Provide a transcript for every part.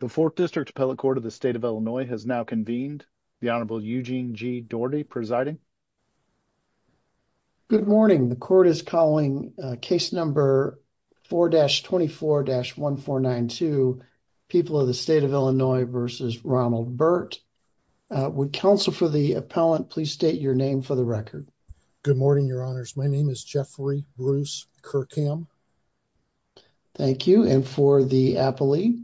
The Fourth District Appellate Court of the State of Illinois has now convened. The Honorable Eugene G. Doherty presiding. Good morning. The court is calling case number 4-24-1492, People of the State of Illinois v. Ronald Burt. Would counsel for the appellant please state your name for the record. Good morning, your honors. My name is Jeffrey Bruce Kirkham. Thank you. And for the appellee?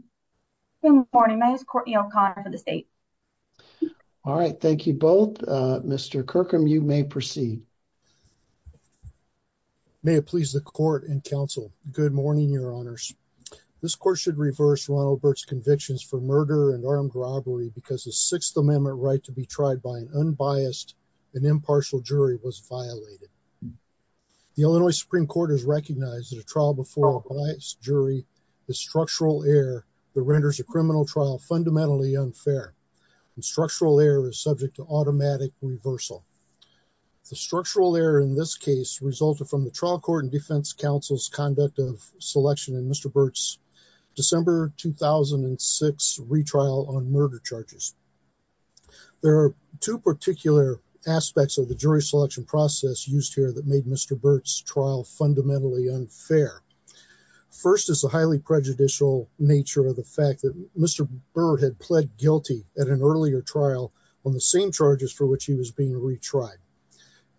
Good morning. My name is Courtney O'Connor for the state. All right. Thank you both. Mr. Kirkham, you may proceed. May it please the court and counsel. Good morning, your honors. This court should reverse Ronald Burt's convictions for murder and armed robbery because the Sixth Amendment right to be tried by an unbiased and impartial jury was violated. The Illinois Supreme Court has recognized that a trial before a biased jury is structural error that renders a criminal trial fundamentally unfair. Structural error is subject to automatic reversal. The structural error in this case resulted from the trial court and defense counsel's conduct of selection in Mr. Burt's December 2006 retrial on murder charges. There are two particular aspects of the jury selection process used here that made Mr. Burt's trial fundamentally unfair. First is the highly prejudicial nature of the fact that Mr. Burt had pled guilty at an earlier trial on the same charges for which he was being retried.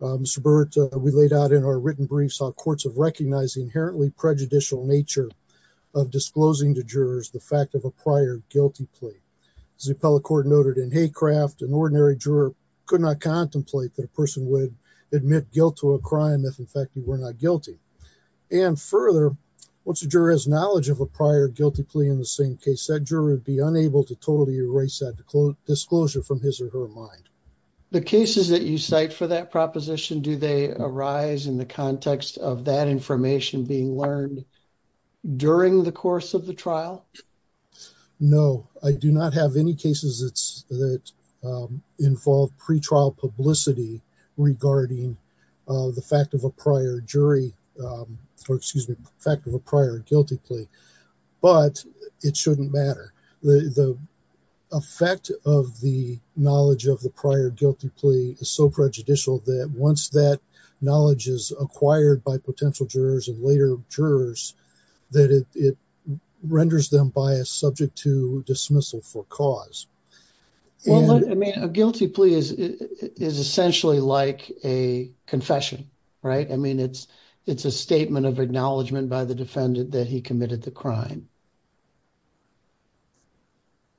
Mr. Burt, we laid out in our written briefs how courts have recognized the inherently prejudicial nature of disclosing to jurors the fact of a prior guilty plea. As the appellate court noted in Haycraft, an ordinary juror could not contemplate that a person would admit guilt to a crime if in fact you were not guilty. And further, once a juror has knowledge of a prior guilty plea in the same case, that juror would be unable to totally erase that disclosure from his or her mind. The cases that you cite for that proposition, do they arise in the context of that information being learned during the course of the trial? No, I do not think so. The fact of a prior guilty plea is so prejudicial that once that knowledge is acquired by potential jurors and later jurors, that it renders them biased, subject to dismissal for cause. Well, I mean, a guilty plea is essentially like a confession, right? I mean, it's a statement of acknowledgement by the defendant that he committed the crime.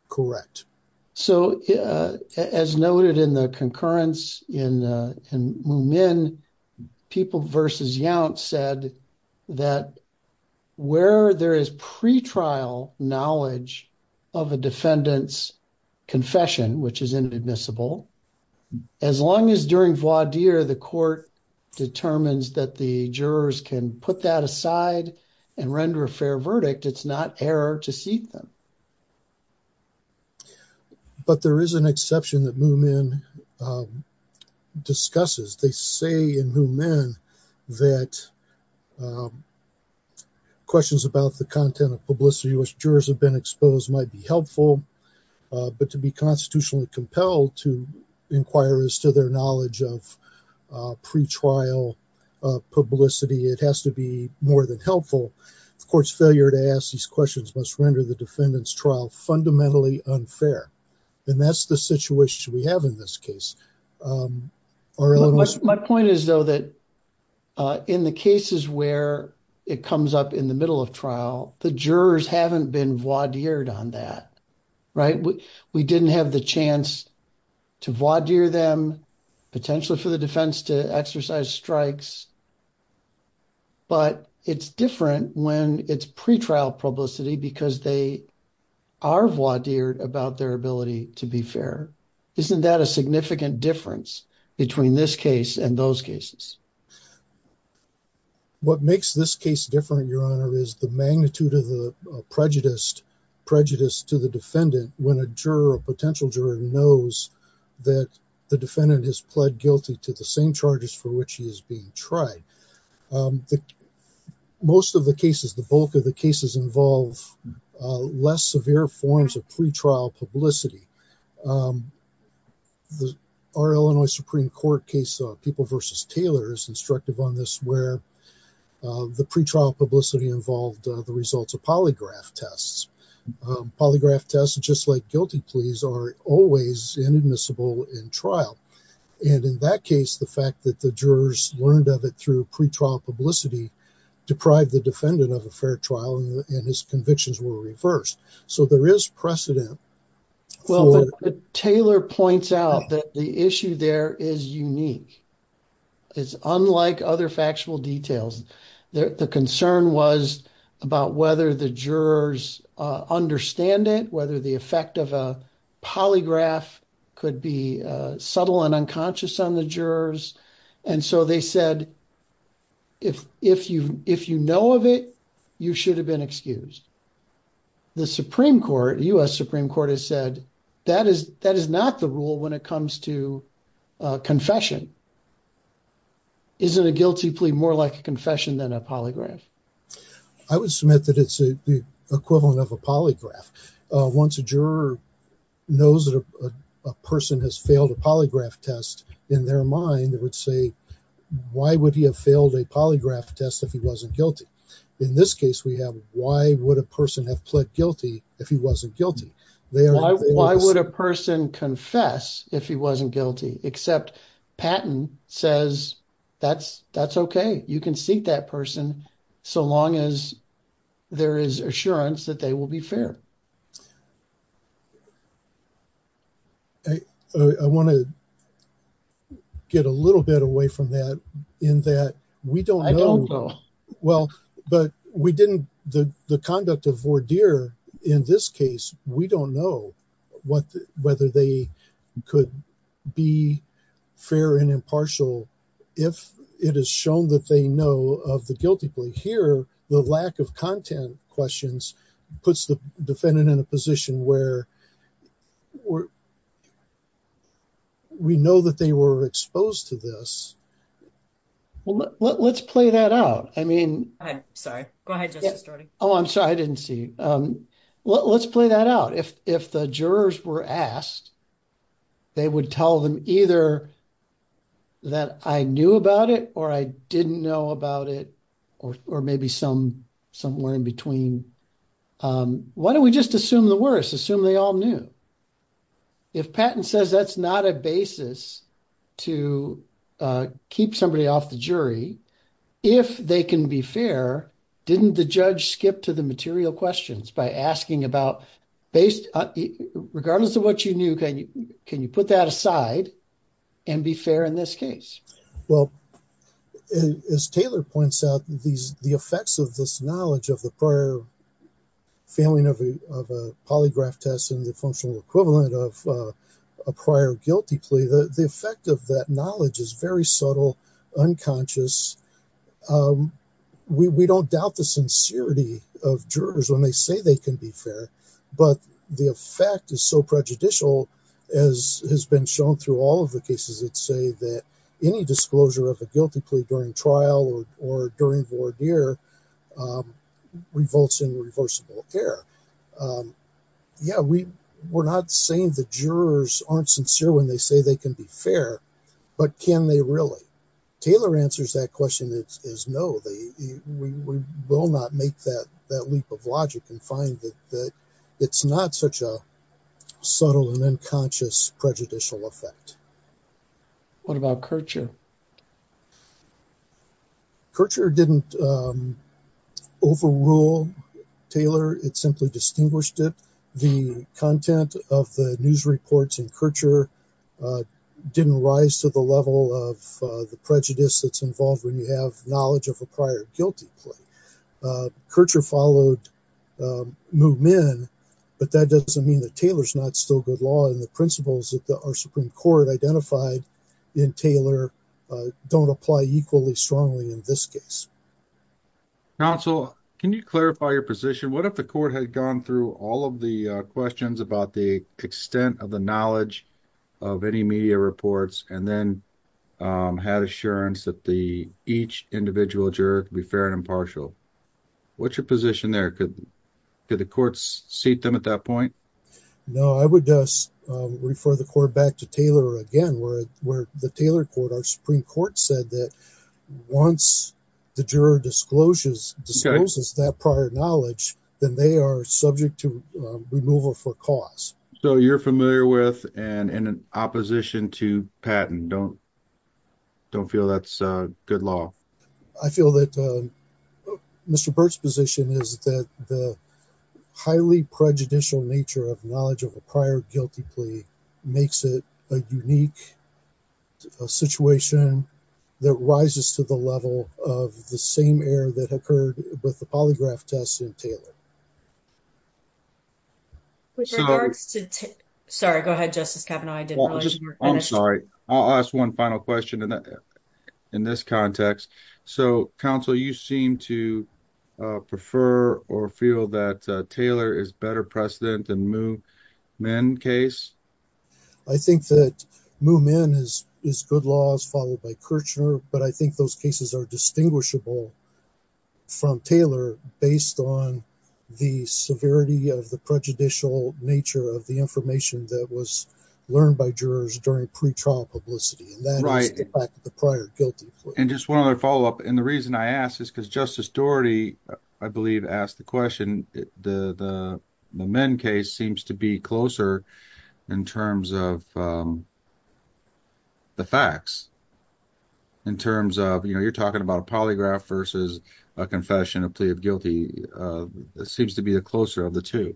Correct. So, as noted in the concurrence in Moomin, people versus Yount said that where there is pre-trial knowledge of a defendant's confession, which is inadmissible, as long as during voir dire the court determines that the jurors can put that aside and render a fair verdict, it's not error to seat them. But there is an exception that Moomin discusses. They say in Moomin that questions about the content of publicity which jurors have been exposed might be helpful, but to be constitutionally compelled to inquire as to their knowledge of pre-trial publicity, it has to be more than helpful. The court's failure to ask these must render the defendant's trial fundamentally unfair. And that's the situation we have in this case. My point is, though, that in the cases where it comes up in the middle of trial, the jurors haven't been voir dired on that, right? We didn't have the chance to voir dire them, potentially for the defense to exercise strikes, but it's different when it's pre-trial publicity because they are voir dired about their ability to be fair. Isn't that a significant difference between this case and those cases? What makes this case different, Your Honor, is the magnitude of the prejudice to the defendant when a potential juror knows that the defendant has pled guilty to the same charges for which he is being tried. Most of the cases, the bulk of the cases, involve less severe forms of pre-trial publicity. Our Illinois Supreme Court case, People v. Taylor, is instructive on this where the pre-trial publicity involved the results of polygraph tests. Polygraph tests, just like guilty pleas, are always inadmissible in trial. And in that case, the fact that the jurors learned of it through pre-trial publicity deprived the defendant of a fair trial and his convictions were reversed. So there is precedent. Well, Taylor points out that the issue there is unique. It's unlike other factual details. The concern was about whether the jurors understand it, whether the effect of a polygraph could be subtle and unconscious on the jurors. And so they said, if you know of it, you should have been excused. The U.S. Supreme Court has said, that is not the rule when it comes to confession. Isn't a guilty plea more like a confession than a polygraph? I would submit that it's the equivalent of a polygraph. Once a juror knows that a person has failed a polygraph test, in their mind, it would say, why would he have failed a polygraph test if he wasn't guilty? In this case, we have, why would a person have pled guilty if he wasn't guilty? Why would a person confess if he wasn't guilty? Except Patton says, that's okay. You can seek that person so long as there is assurance that they will be fair. I want to get a little bit away from that in that we don't know. Well, but we didn't, the conduct of Vordir in this case, we don't know whether they could be fair and impartial if it is shown that they know of the guilty plea. Here, the lack of content questions puts the defendant in a position where we know that they were exposed to this. Well, let's play that out. I mean, I'm sorry. Go ahead. Oh, I'm sorry. I didn't see. Let's play that out. If the jurors were asked, they would tell them either that I knew about it, or I didn't know about it, or maybe somewhere in between. Why don't we just assume the worst? Assume they all knew. If Patton says that's not a basis to keep somebody off the jury, if they can be fair, didn't the judge skip to the material questions by asking about, regardless of what you knew, can you put that aside and be fair in this case? Well, as Taylor points out, the effects of this knowledge of the prior failing of a polygraph test and the functional equivalent of a prior guilty plea, the effect of that knowledge is very subtle, unconscious. We don't doubt the sincerity of jurors when they say they can be fair, but the effect is so prejudicial as has been shown through all of the cases that say that any disclosure of a guilty plea during trial or during voir dire revolts in reversible error. Yeah, we're not saying the jurors aren't sincere when they say they can be fair, but can they really? Taylor answers that question as no, we will not make that leap of logic and find that it's not such a subtle and unconscious prejudicial effect. What about Kircher? Kircher didn't overrule Taylor, it simply distinguished it. The content of the news reports in Kircher didn't rise to the level of the prejudice that's involved when you have knowledge of a prior guilty plea. Kircher followed Moomin, but that doesn't mean that Supreme Court identified in Taylor don't apply equally strongly in this case. Counsel, can you clarify your position? What if the court had gone through all of the questions about the extent of the knowledge of any media reports and then had assurance that each individual juror could be fair and impartial? What's your position there? Could the courts seat them at that point? No, I would just refer the court back to Taylor again, where the Taylor court, our Supreme Court said that once the juror discloses that prior knowledge, then they are subject to removal for cause. So you're familiar with and in opposition to Patton, don't feel that's good law. I feel that Mr. Burt's position is that the highly prejudicial nature of knowledge of a prior guilty plea makes it a unique situation that rises to the level of the same error that occurred with the polygraph tests in Taylor. With regards to, sorry go ahead Justice Kavanaugh. I'm sorry, I'll ask one final question in this context. So counsel, you seem to prefer or feel that Taylor is better precedent than Moomin case? I think that Moomin is good laws followed by Kirchner, but I think those cases are distinguishable from Taylor based on the severity of the prejudicial nature of the information that was learned by jurors during pre-trial publicity and that is the fact of the prior guilty plea. And just one other follow-up, and the reason I ask is because Justice Doherty, I believe asked the question, the Moomin case seems to be closer in terms of the facts. In terms of, you know, you're talking about a polygraph versus a confession of plea of guilty, it seems to be the closer of the two.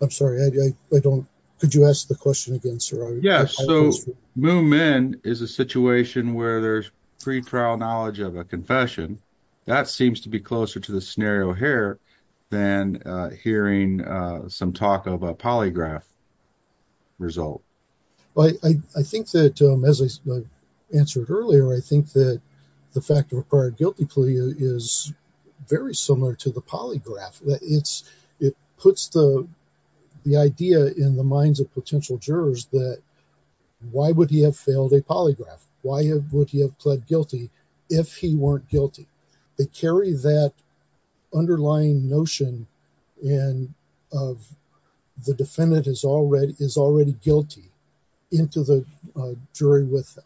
I'm sorry, I don't, could you ask the question again sir? Yes, so Moomin is a situation where there's pre-trial knowledge of a confession. That seems to be closer to the scenario here than hearing some talk of a polygraph result. I think that as I answered earlier, I think that the fact of a prior guilty plea is very similar to the polygraph. It puts the idea in the minds of potential jurors that why would he have failed a polygraph? Why would he have pled guilty if he weren't guilty? They carry that underlying notion and of the defendant is already guilty into the jury with them.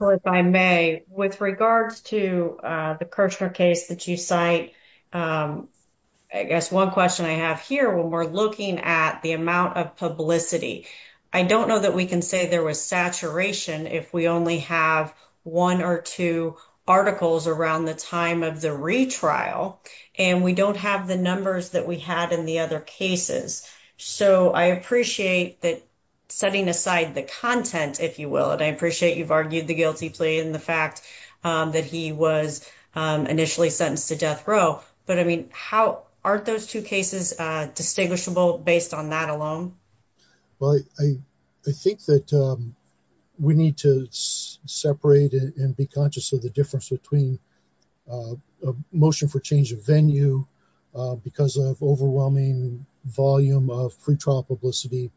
So, if I may, with regards to the Kirchner case that you cite, I guess one question I have here, when we're looking at the amount of publicity, I don't know that we can say there was saturation if we only have one or two articles around the time of the retrial and we don't have the numbers that we had in the other cases. So, I appreciate that setting aside the content, if you will, and I appreciate you've argued the guilty plea and the fact that he was initially sentenced to death row. But I mean, aren't those two cases distinguishable based on that alone? Well, I think that we need to separate and be conscious of the difference between a motion for change of venue because of overwhelming volume of free trial publicity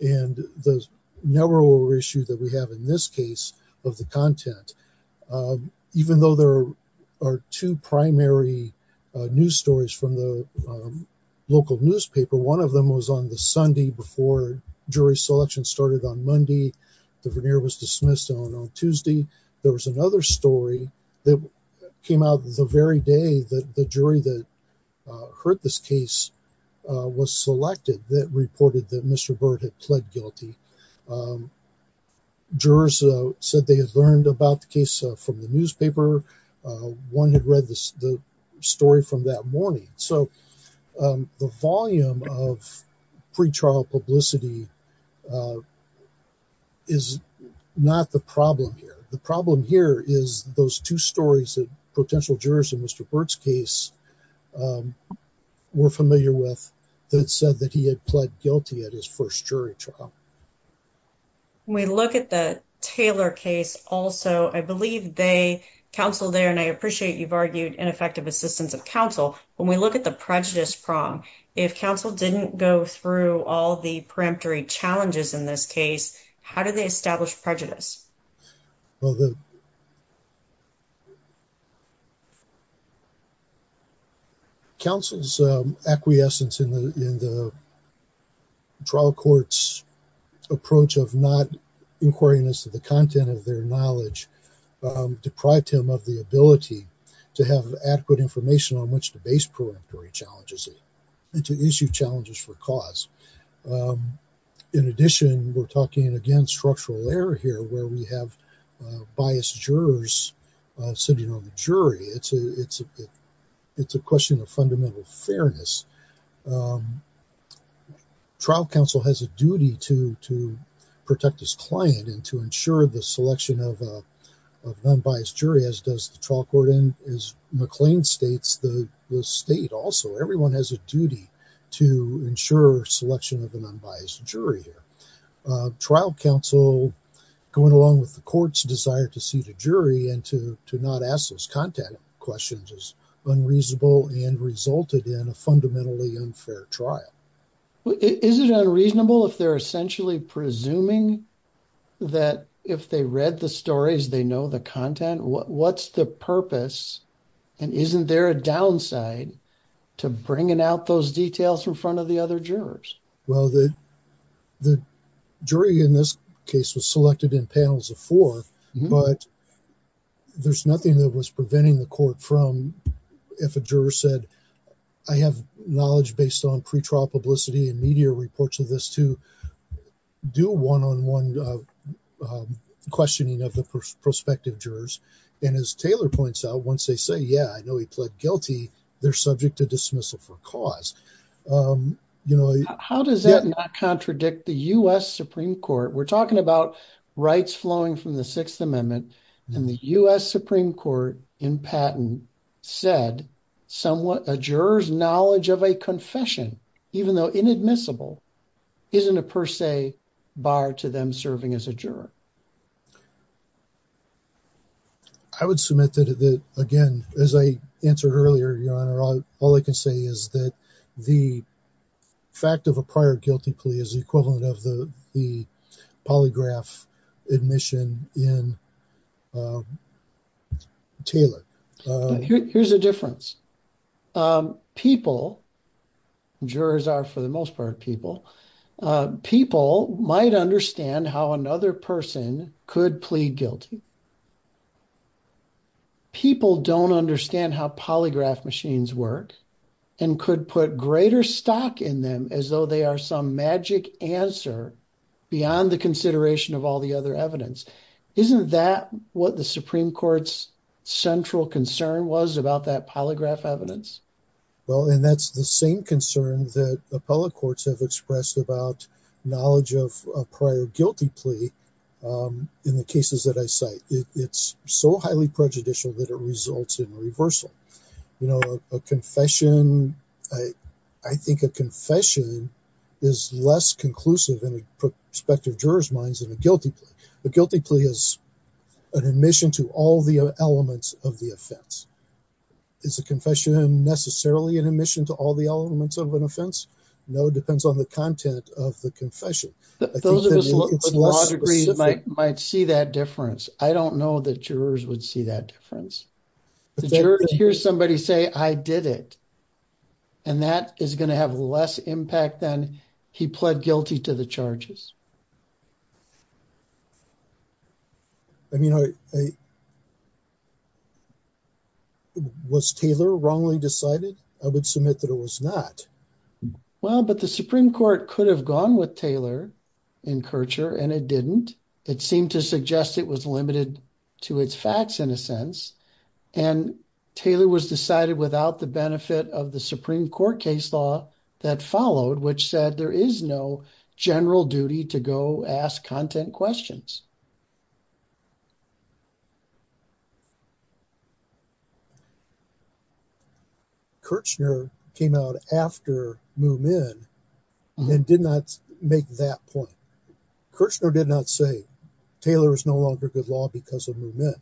and the narrower issue that we have in this case of the content. Even though there are two primary news stories from the local newspaper, one of them was on the Sunday before jury selection started on Monday. The veneer was dismissed on Tuesday. There was another story that came out the very day that the jury that heard this case was selected that reported that Mr. Bird had pled guilty. Jurors said they had learned about the case from the newspaper. One had read the story from that morning. So, the volume of free trial publicity is not the problem here. The problem here is those two stories that potential jurors in Mr. Bird's case were familiar with that said that he had pled guilty at his first jury trial. When we look at the Taylor case also, I believe they counseled there and I appreciate you've argued ineffective assistance of counsel. When we look at the prejudice prong, if counsel didn't go through all the peremptory challenges in this case, how do they establish prejudice? Counsel's acquiescence in the trial court's approach of not inquiring into the content of their knowledge deprived him of the ability to have adequate information on which to base peremptory challenges and to issue challenges for cause. In addition, we're talking again structural error here where we have biased jurors sitting on the jury. It's a question of fairness. Trial counsel has a duty to protect his client and to ensure the selection of unbiased jury as does the trial court and as McLean states, the state also. Everyone has a duty to ensure selection of an unbiased jury here. Trial counsel going along with the court's desire to see the jury and to not ask those content questions is unreasonable and resulted in a fundamentally unfair trial. Is it unreasonable if they're essentially presuming that if they read the stories, they know the content? What's the purpose and isn't there a downside to bringing out those details in front of the other jurors? Well, the jury in this case was selected in four panels of four but there's nothing that was preventing the court from if a juror said, I have knowledge based on pre-trial publicity and media reports of this to do one-on-one questioning of the prospective jurors and as Taylor points out, once they say, yeah, I know he pled guilty, they're subject to dismissal for cause. You know, how does that not contradict the U.S. Supreme Court? We're talking about rights flowing from the Sixth Amendment and the U.S. Supreme Court in patent said somewhat a juror's knowledge of a confession, even though inadmissible, isn't a per se bar to them serving as a juror. I would submit that again, as I answered earlier, your honor, all I can say is that the fact of a prior guilty plea is the equivalent of the polygraph admission in Taylor. Here's the difference. People, jurors are for the most part people, people might understand how another person could plead guilty. People don't understand how polygraph machines work and could put greater stock in them as though they are some magic answer beyond the consideration of all the other evidence. Isn't that what the Supreme Court's central concern was about that polygraph evidence? Well, and that's the same concern that appellate courts have expressed about knowledge of a prior guilty plea in the cases that I cite. It's so highly prejudicial that it results in reversal. You know, a confession, I think a confession is less conclusive in prospective jurors' minds than a guilty plea. A guilty plea is an admission to all the elements of the offense. Is a confession necessarily an admission to all the elements of an offense? No, it depends on the content of the confession. Those of us with law degrees might see that difference. I don't know that jurors would see that difference. The jurors hear somebody say, I did it, and that is going to have less impact than he pled guilty to the charges. I mean, was Taylor wrongly decided? I would submit that it was not. Well, but the Supreme Court could have gone with Taylor and Kirchner, and it didn't. It seemed to suggest it was limited to its facts in a sense. And Taylor was decided without the benefit of the Supreme Court case law that followed, which said there is no general duty to go ask content questions. Kirchner came out after Moomin and did not make that point. Kirchner did not say Taylor is no longer good law because of Moomin.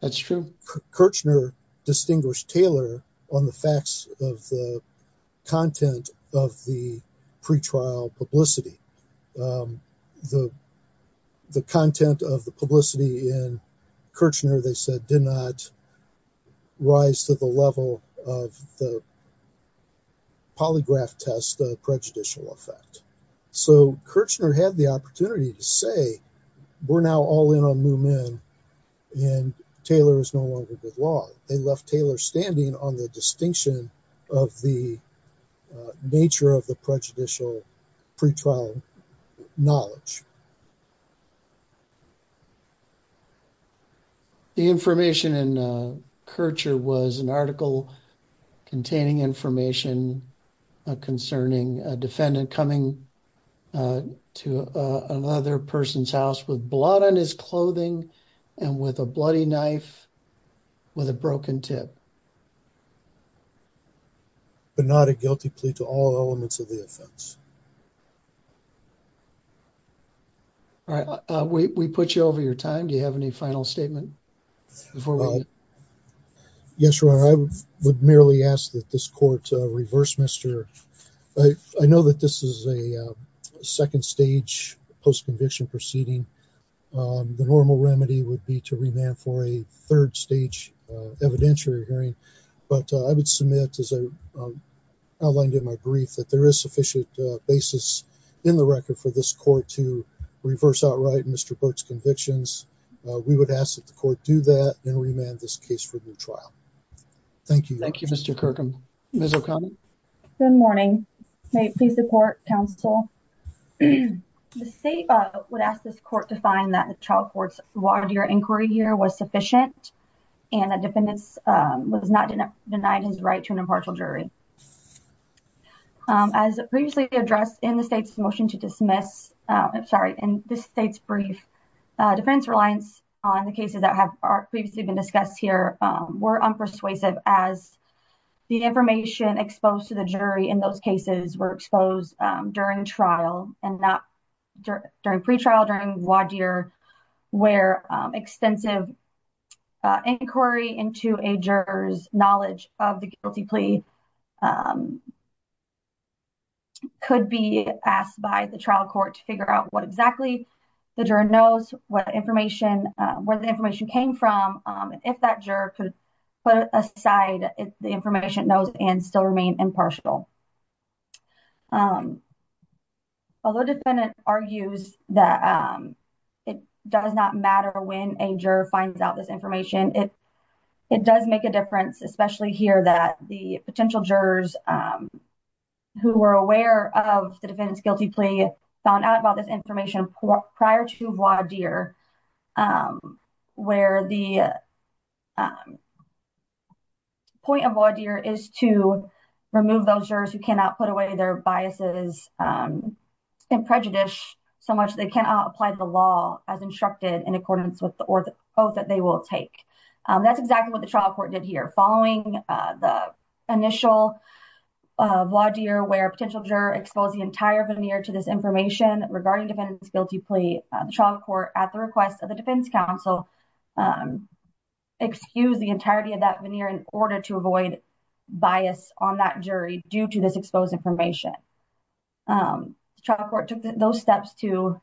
That's true. Kirchner distinguished Taylor on the facts of the content of the pre-trial publicity. The content of the pre-trial publicity was not good law. The content of the publicity in Kirchner, they said, did not rise to the level of the polygraph test prejudicial effect. So Kirchner had the opportunity to say, we're now all in on Moomin, and Taylor is no longer good law. They left Taylor standing on the distinction of the nature of the prejudicial pre-trial knowledge. The information in Kirchner was an article containing information concerning a defendant coming to another person's house with blood on his clothing and with a bloody knife with a broken tip. But not a guilty plea to all elements of the offense. All right. We put you over your time. Do you have any final statement before we end? Yes, your honor. I would merely ask that this court reverse Mr. I know that this is a second stage post-conviction proceeding. The normal remedy would be to remand for a third stage evidentiary hearing. But I would submit as I outlined in my brief that there is sufficient basis in the record for this court to reverse outright Mr. Burt's convictions. We would ask that the court do that and remand this case for new trial. Thank you. Thank you, Mr. Kirkham. Ms. O'Connor. Good morning. May it please the court, counsel. The state would ask this court to find that the trial court's watered-air inquiry here was sufficient and the defendant was not denied his right to an impartial jury. As previously addressed in the state's motion to dismiss, sorry, in the state's brief defense reliance on the cases that have previously been discussed here were unpersuasive as the information exposed to the jury in those cases were exposed during trial and not during pre-trial, during Wadier where extensive inquiry into a juror's knowledge of the guilty plea could be asked by the trial court to figure out what exactly the juror knows, where the information came from, if that juror could put aside the information it knows and still remain impartial. Although the defendant argues that it does not matter when a juror finds out this information, it does make a difference, especially here that the potential jurors who were aware of the defendant's guilty plea found out about this information prior to Wadier, where the point of Wadier is to remove those jurors who cannot put away their biases and prejudice so much they cannot apply to the law as instructed in accordance with the oath that they will take. That's exactly what the trial court did here. Following the initial Wadier where a potential juror exposed the entire veneer to this information regarding the defendant's guilty plea, the trial court at the request of the defense counsel excused the entirety of that veneer in order to avoid bias on that jury due to this exposed information. The trial court took those steps to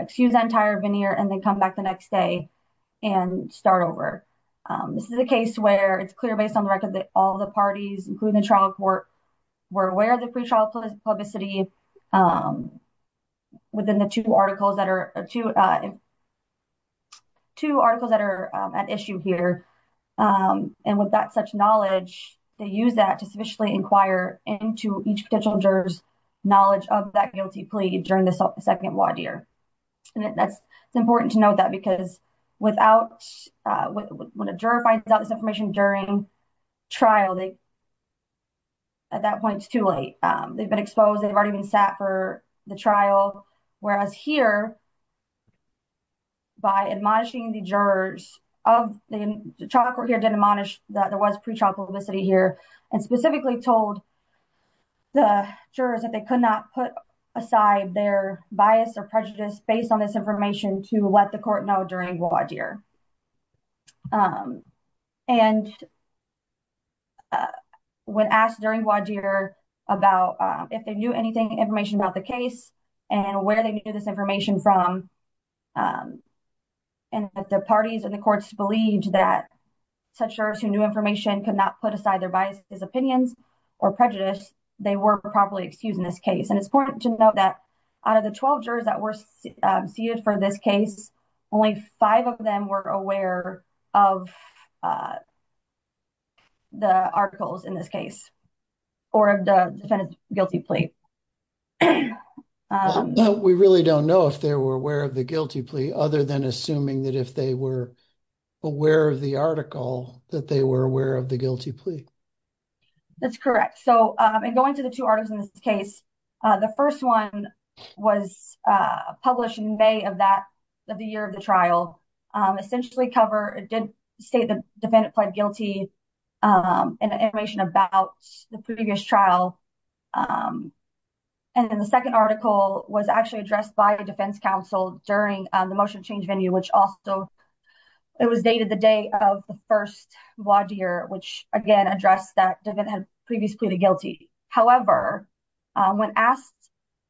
excuse that entire veneer and then come back the next day and start over. This is a case where it's clear based on the record that all the parties, including the trial court, were aware of the pre-trial publicity within the two articles that are at issue here. With that such knowledge, they use that to sufficiently inquire into each potential juror's knowledge of that guilty plea during the second Wadier. It's important to note that because when a juror finds out this information during trial, at that point it's too late. They've been exposed. They've already been sat for the trial. Whereas here, by admonishing the jurors, the trial court here did admonish that there was pre-trial publicity here and specifically told the jurors that they could not put aside their bias or prejudice based on this information to let the court know during Wadier. When asked during Wadier about if they knew anything information about the case and where they knew this information from and if the parties and the courts believed that such jurors who knew information could not put aside their biases, opinions, or prejudice, they were properly excused in this case. It's important to note that of the 12 jurors that were seated for this case, only five of them were aware of the articles in this case or of the defendant's guilty plea. We really don't know if they were aware of the guilty plea other than assuming that if they were aware of the article that they were aware of the guilty plea. That's correct. So, in going to the two articles in this case, the first one was published in May of the year of the trial. Essentially, it did state that the defendant pled guilty in the information about the previous trial. The second article was actually addressed by the defense counsel during the motion to change venue, which also was dated the day of the first Wadier, which again addressed that the defendant had previously pleaded guilty. However, when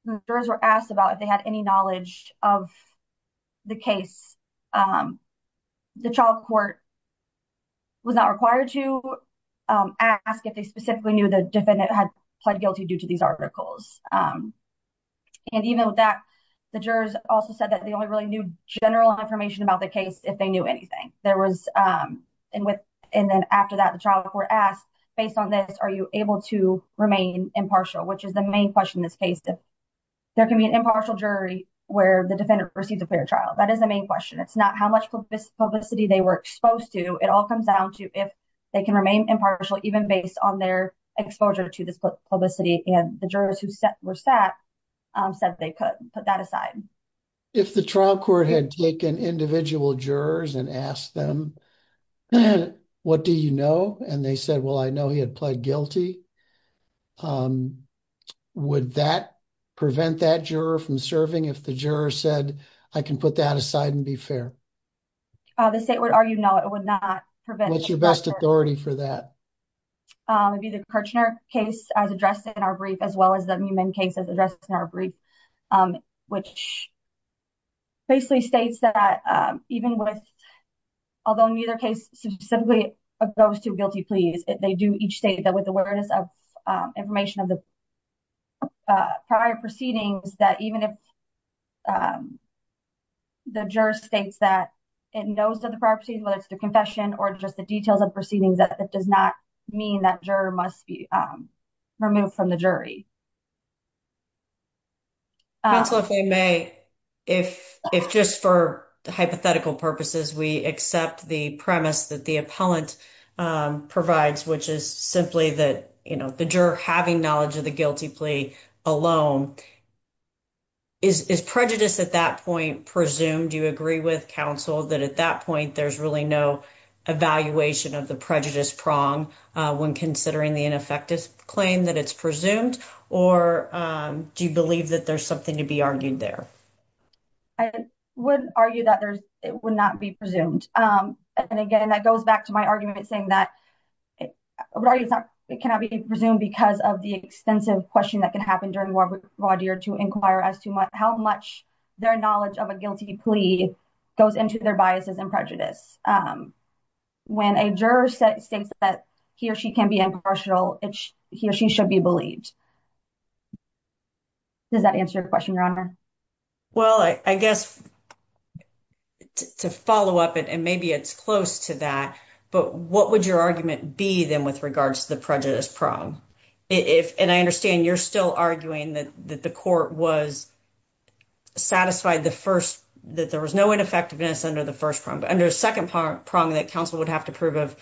the jurors were asked about if they had any knowledge of the case, the trial court was not required to ask if they specifically knew the defendant had pled guilty due to these articles. Even with that, the jurors also said that they only really knew general information about the case if they knew anything. And then after that, the trial court asked, based on this, are you able to remain impartial, which is the main question in this case. There can be an impartial jury where the defendant receives a clear trial. That is the main question. It's not how much publicity they were exposed to. It all comes down to if they can remain impartial even based on their exposure to this publicity. And the jurors who were sat said they could put that aside. If the trial court had taken individual jurors and asked them, what do you know? And they said, well, I know he had pled guilty. Would that prevent that juror from serving if the juror said I can put that aside and be fair? The state would argue, no, it would not prevent your best authority for that. It'd be the Kirchner case as addressed in our brief, as well as the Newman case as addressed in our brief, which basically states that even with, although neither case specifically goes to guilty pleas, they do each state that with awareness of information of the prior proceedings, that even if the juror states that it knows of the property, whether it's the confession or just the details of proceedings, that does not mean that juror must be removed from the jury. Counsel, if I may, if, if just for hypothetical purposes, we accept the premise that the appellant provides, which is simply that, you know, the juror having knowledge of the guilty plea alone is prejudice at that point. Presumed you agree with counsel that at that point, there's really no evaluation of the prejudice prong when considering the ineffective claim that it's presumed, or do you believe that there's something to be argued there? I would argue that there's, it would not be presumed. And again, that goes back to my argument, saying that it cannot be presumed because of the extensive question that could happen during raw deer to inquire as to how much their knowledge of a guilty plea goes into their biases and prejudice. When a juror states that he or she can be impartial, he or she should be believed. Does that answer your question, Your Honor? Well, I guess to follow up, and maybe it's close to that, but what would your argument be then with regards to the prejudice prong? If, and I understand you're still arguing that the court was satisfied the first, that there was no ineffectiveness under the first prong, under a second prong that counsel would have to prove of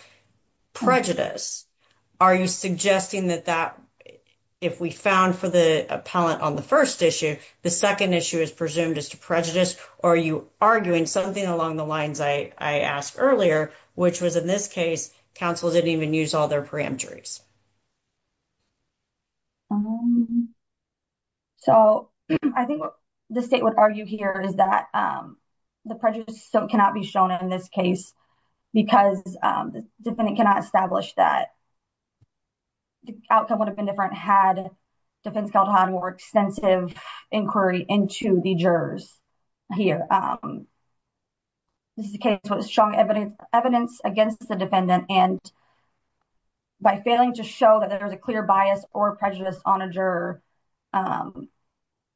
prejudice. Are you suggesting that that, if we found for the appellant on the first issue, the second issue is presumed as to prejudice, or are you arguing something along the lines I asked earlier, which was in this case, counsel didn't even use all their preemptories? So, I think the state would argue here is that the prejudice still cannot be shown in this case because the defendant cannot establish that the outcome would have been different had defense counsel had more extensive inquiry into the jurors here. This is a case with strong evidence against the defendant, and by failing to show that there was a clear bias or prejudice on a juror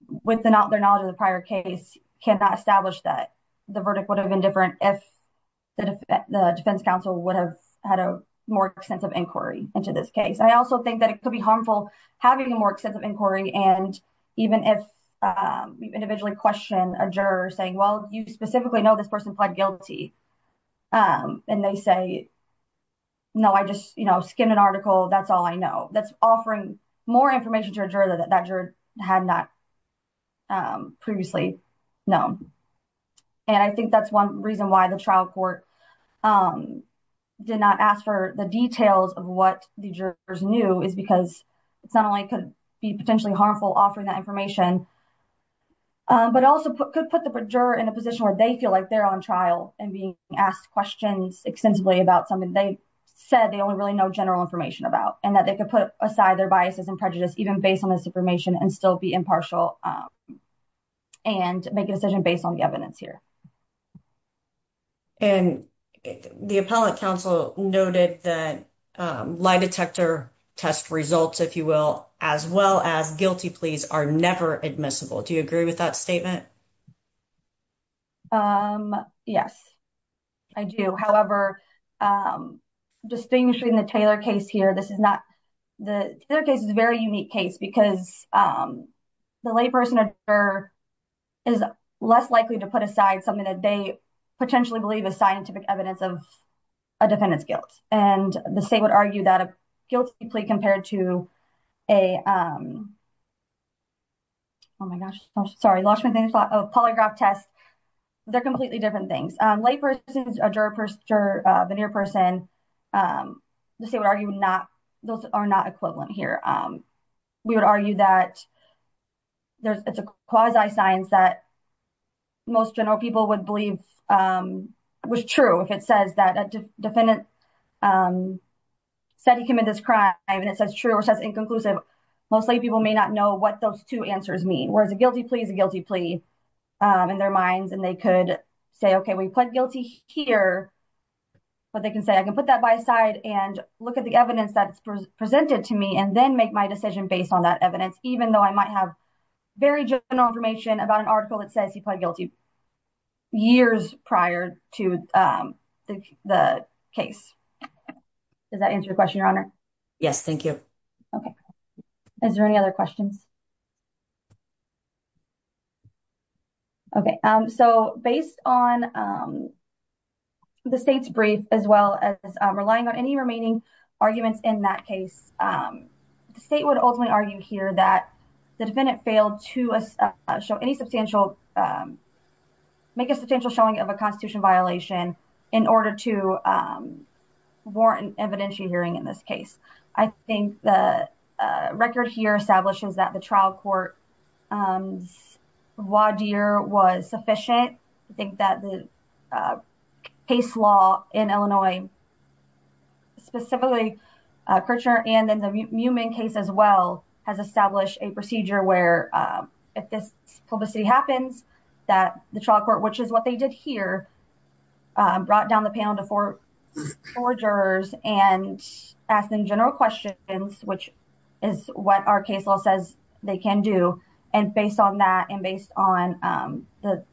with their knowledge of the prior case cannot establish that the verdict would have been different if the defense counsel would have had a more extensive inquiry into this case. I also think that it could be harmful having a more extensive inquiry, and even if you individually question a juror saying, well, you specifically know this person pled guilty, and they say, no, I just skimmed an article, that's all I know, that's offering more information to a juror that that juror had not previously known. And I think that's one reason why the trial court did not ask for the details of what the jurors knew is because it's not only could be potentially harmful offering that information, but also could put the juror in a position where they feel like they're on trial and being asked questions extensively about something they said they only really know general information about, and that they could put aside their biases and prejudice even based on this information and still be impartial and make a decision based on the evidence here. And the appellate counsel noted that lie detector test results, if you will, as well as guilty pleas are never admissible. Do you agree with that statement? Yes, I do. However, distinguishing the Taylor case here, this is not, the case is a very unique case because the lay person or juror is less likely to put aside something that they potentially believe is scientific evidence of a defendant's guilt. And the state would argue that a guilty plea compared to a, oh my gosh, sorry, lost my thing, a polygraph test. They're completely different things. A lay person, a juror, a veneer person, the state would argue not, those are not equivalent here. We would argue that it's a quasi science that most general people would believe was true if it says that a defendant said he committed this crime and it says true or says inconclusive. Most lay people may not know what those two answers mean. Whereas a guilty plea is a guilty plea in their minds. And they could say, okay, we pled guilty here, but they can say, I can put that by side and look at the evidence that's presented to me and then make my decision based on that evidence, even though I might have very general information about an article that says he pled guilty years prior to the case. Does that answer your question, your honor? Yes. Thank you. Okay. Is there any other questions? Okay. So based on the state's brief, as well as relying on any remaining arguments in that case, the state would ultimately argue here that the defendant failed to show any substantial, make a substantial showing of a constitution violation in order to warrant an evidentiary hearing in this case. I think the record here establishes that the trial court's voir dire was sufficient. I think that the case law in Illinois, specifically Kirchner, and then the Mumin case as well, has established a procedure where if this publicity happens, that the trial court, which is what they did here, brought down the panel to four jurors and asked them general questions, which is what our case law says they can do. And based on that, and based on the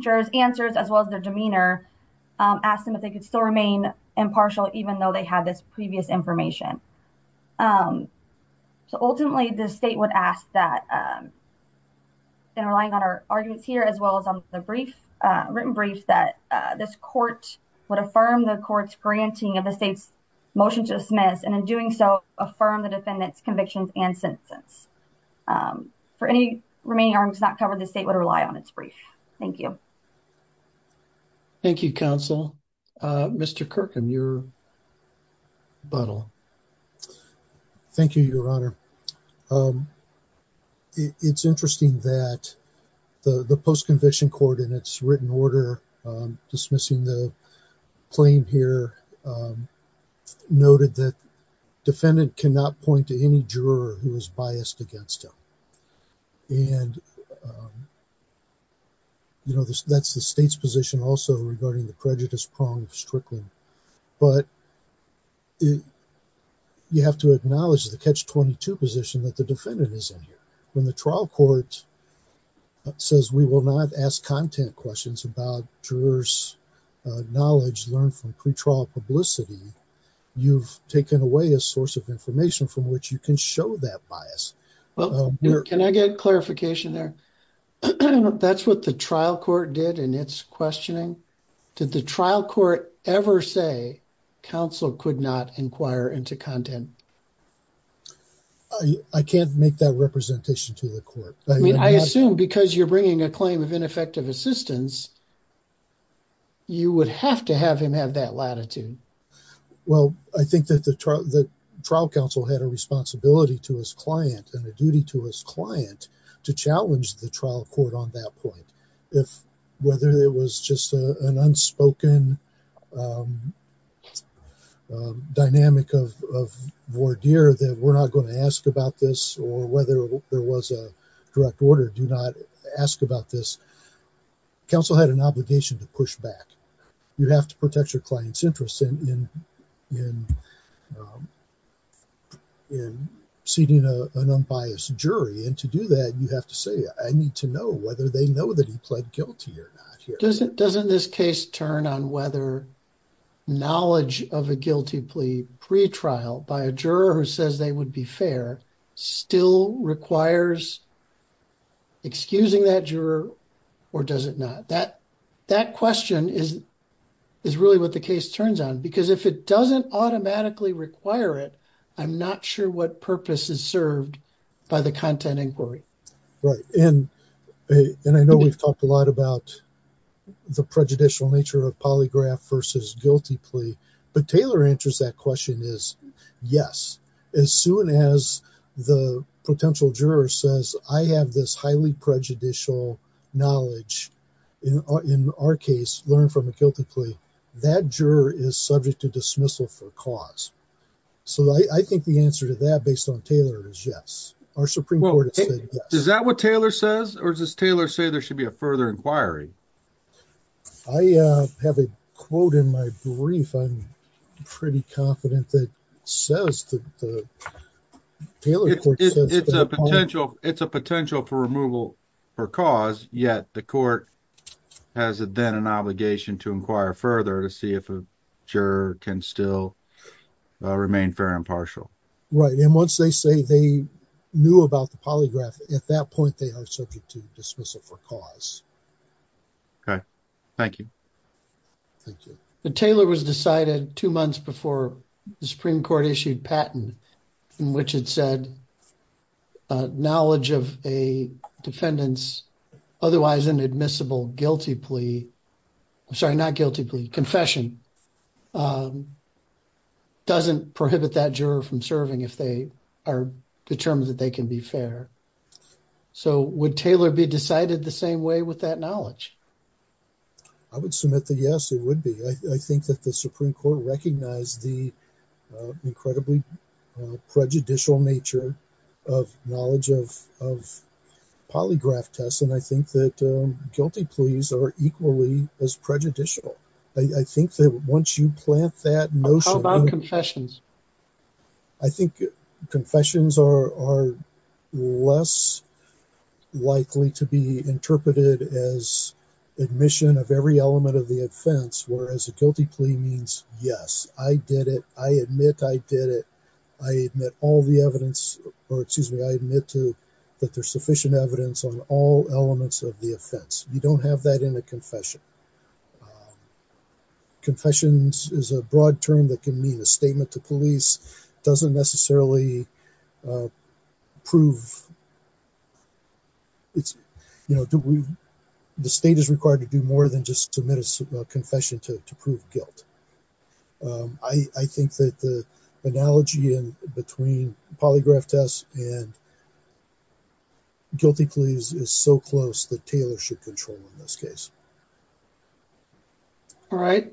jurors' answers, as well as their demeanor, asked them if they could still remain impartial, even though they had this previous information. So ultimately the state would ask that, in relying on our arguments here, as well as on the written brief, that this court would affirm the court's granting of the state's motion to dismiss, and in doing so, affirm the defendant's convictions and sentence. For any remaining arguments not covered, the state would rely on its brief. Thank you. Thank you, counsel. Mr. Kirkham, your butthole. Thank you, Your Honor. It's interesting that the post-conviction court, in its written order dismissing the claim here, noted that defendant cannot point to any juror who is biased against him. And you know, that's the state's position also regarding the prejudice prong of Strickland. But you have to acknowledge the catch-22 position that the defendant is in here. When the trial court says we will not ask content questions about jurors' knowledge learned from pretrial publicity, you've taken away a source of information from which you can show that bias. Well, can I get clarification there? That's what the trial court did in its questioning? Did the trial court ever say counsel could not inquire into content? I can't make that representation to the court. I mean, I assume because you're bringing a claim of ineffective assistance, you would have to have him have that latitude. Well, I think that the trial counsel had a responsibility to his client and a duty to client to challenge the trial court on that point. Whether it was just an unspoken dynamic of voir dire that we're not going to ask about this or whether there was a direct order, do not ask about this. Counsel had an obligation to push back. You have to protect your client's interests in seating an unbiased jury. And to do that, you have to say, I need to know whether they know that he pled guilty or not here. Doesn't this case turn on whether knowledge of a guilty plea pretrial by a juror who says they would be fair still requires excusing that juror or does it not? That question is really what the case turns on because if it doesn't automatically require it, I'm not sure what purpose is served by the content inquiry. Right. And I know we've talked a lot about the prejudicial nature of polygraph versus guilty plea, but Taylor answers that question is, yes, as soon as the potential juror says I have this highly prejudicial knowledge in our case, learn from a guilty plea, that juror is subject to dismissal for cause. So I think the answer to that based on Taylor is yes, our Supreme Court. Is that what Taylor says? Or does Taylor say there should be a further inquiry? I have a quote in my brief. I'm pretty confident that says that the Taylor it's a potential for removal for cause. Yet the court has then an obligation to inquire further to see if a juror can still remain fair and partial. Right. And once they say they knew about the polygraph, at that point, they are subject to dismissal for cause. Okay. Thank you. Thank you. But Taylor was decided two months before the Supreme Court issued patent in which it said knowledge of a defendant's otherwise inadmissible guilty plea. I'm sorry, not guilty plea confession. Doesn't prohibit that juror from serving if they are determined that they can be fair. So would Taylor be decided the same way with that knowledge? I would submit the yes, it would be. I think that the Supreme Court recognized the incredibly prejudicial nature of knowledge of polygraph tests. And I think that guilty pleas are equally as prejudicial. I think that once you plant that notion. How about confessions? I think confessions are less likely to be interpreted as admission of every element of the offense, whereas a guilty plea means, yes, I did it. I admit I did it. I admit all the evidence or excuse me, I admit to that there's sufficient evidence on all elements of the offense. You don't have that in a confession. Confessions is a broad term that means a statement to police doesn't necessarily prove. It's, you know, the state is required to do more than just submit a confession to prove guilt. I think that the analogy between polygraph tests and guilty pleas is so close that Taylor should control in this case. All right.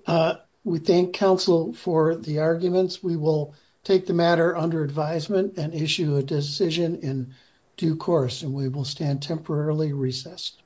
We thank counsel for the arguments. We will take the matter under advisement and issue a decision in due course and we will stand temporarily recessed.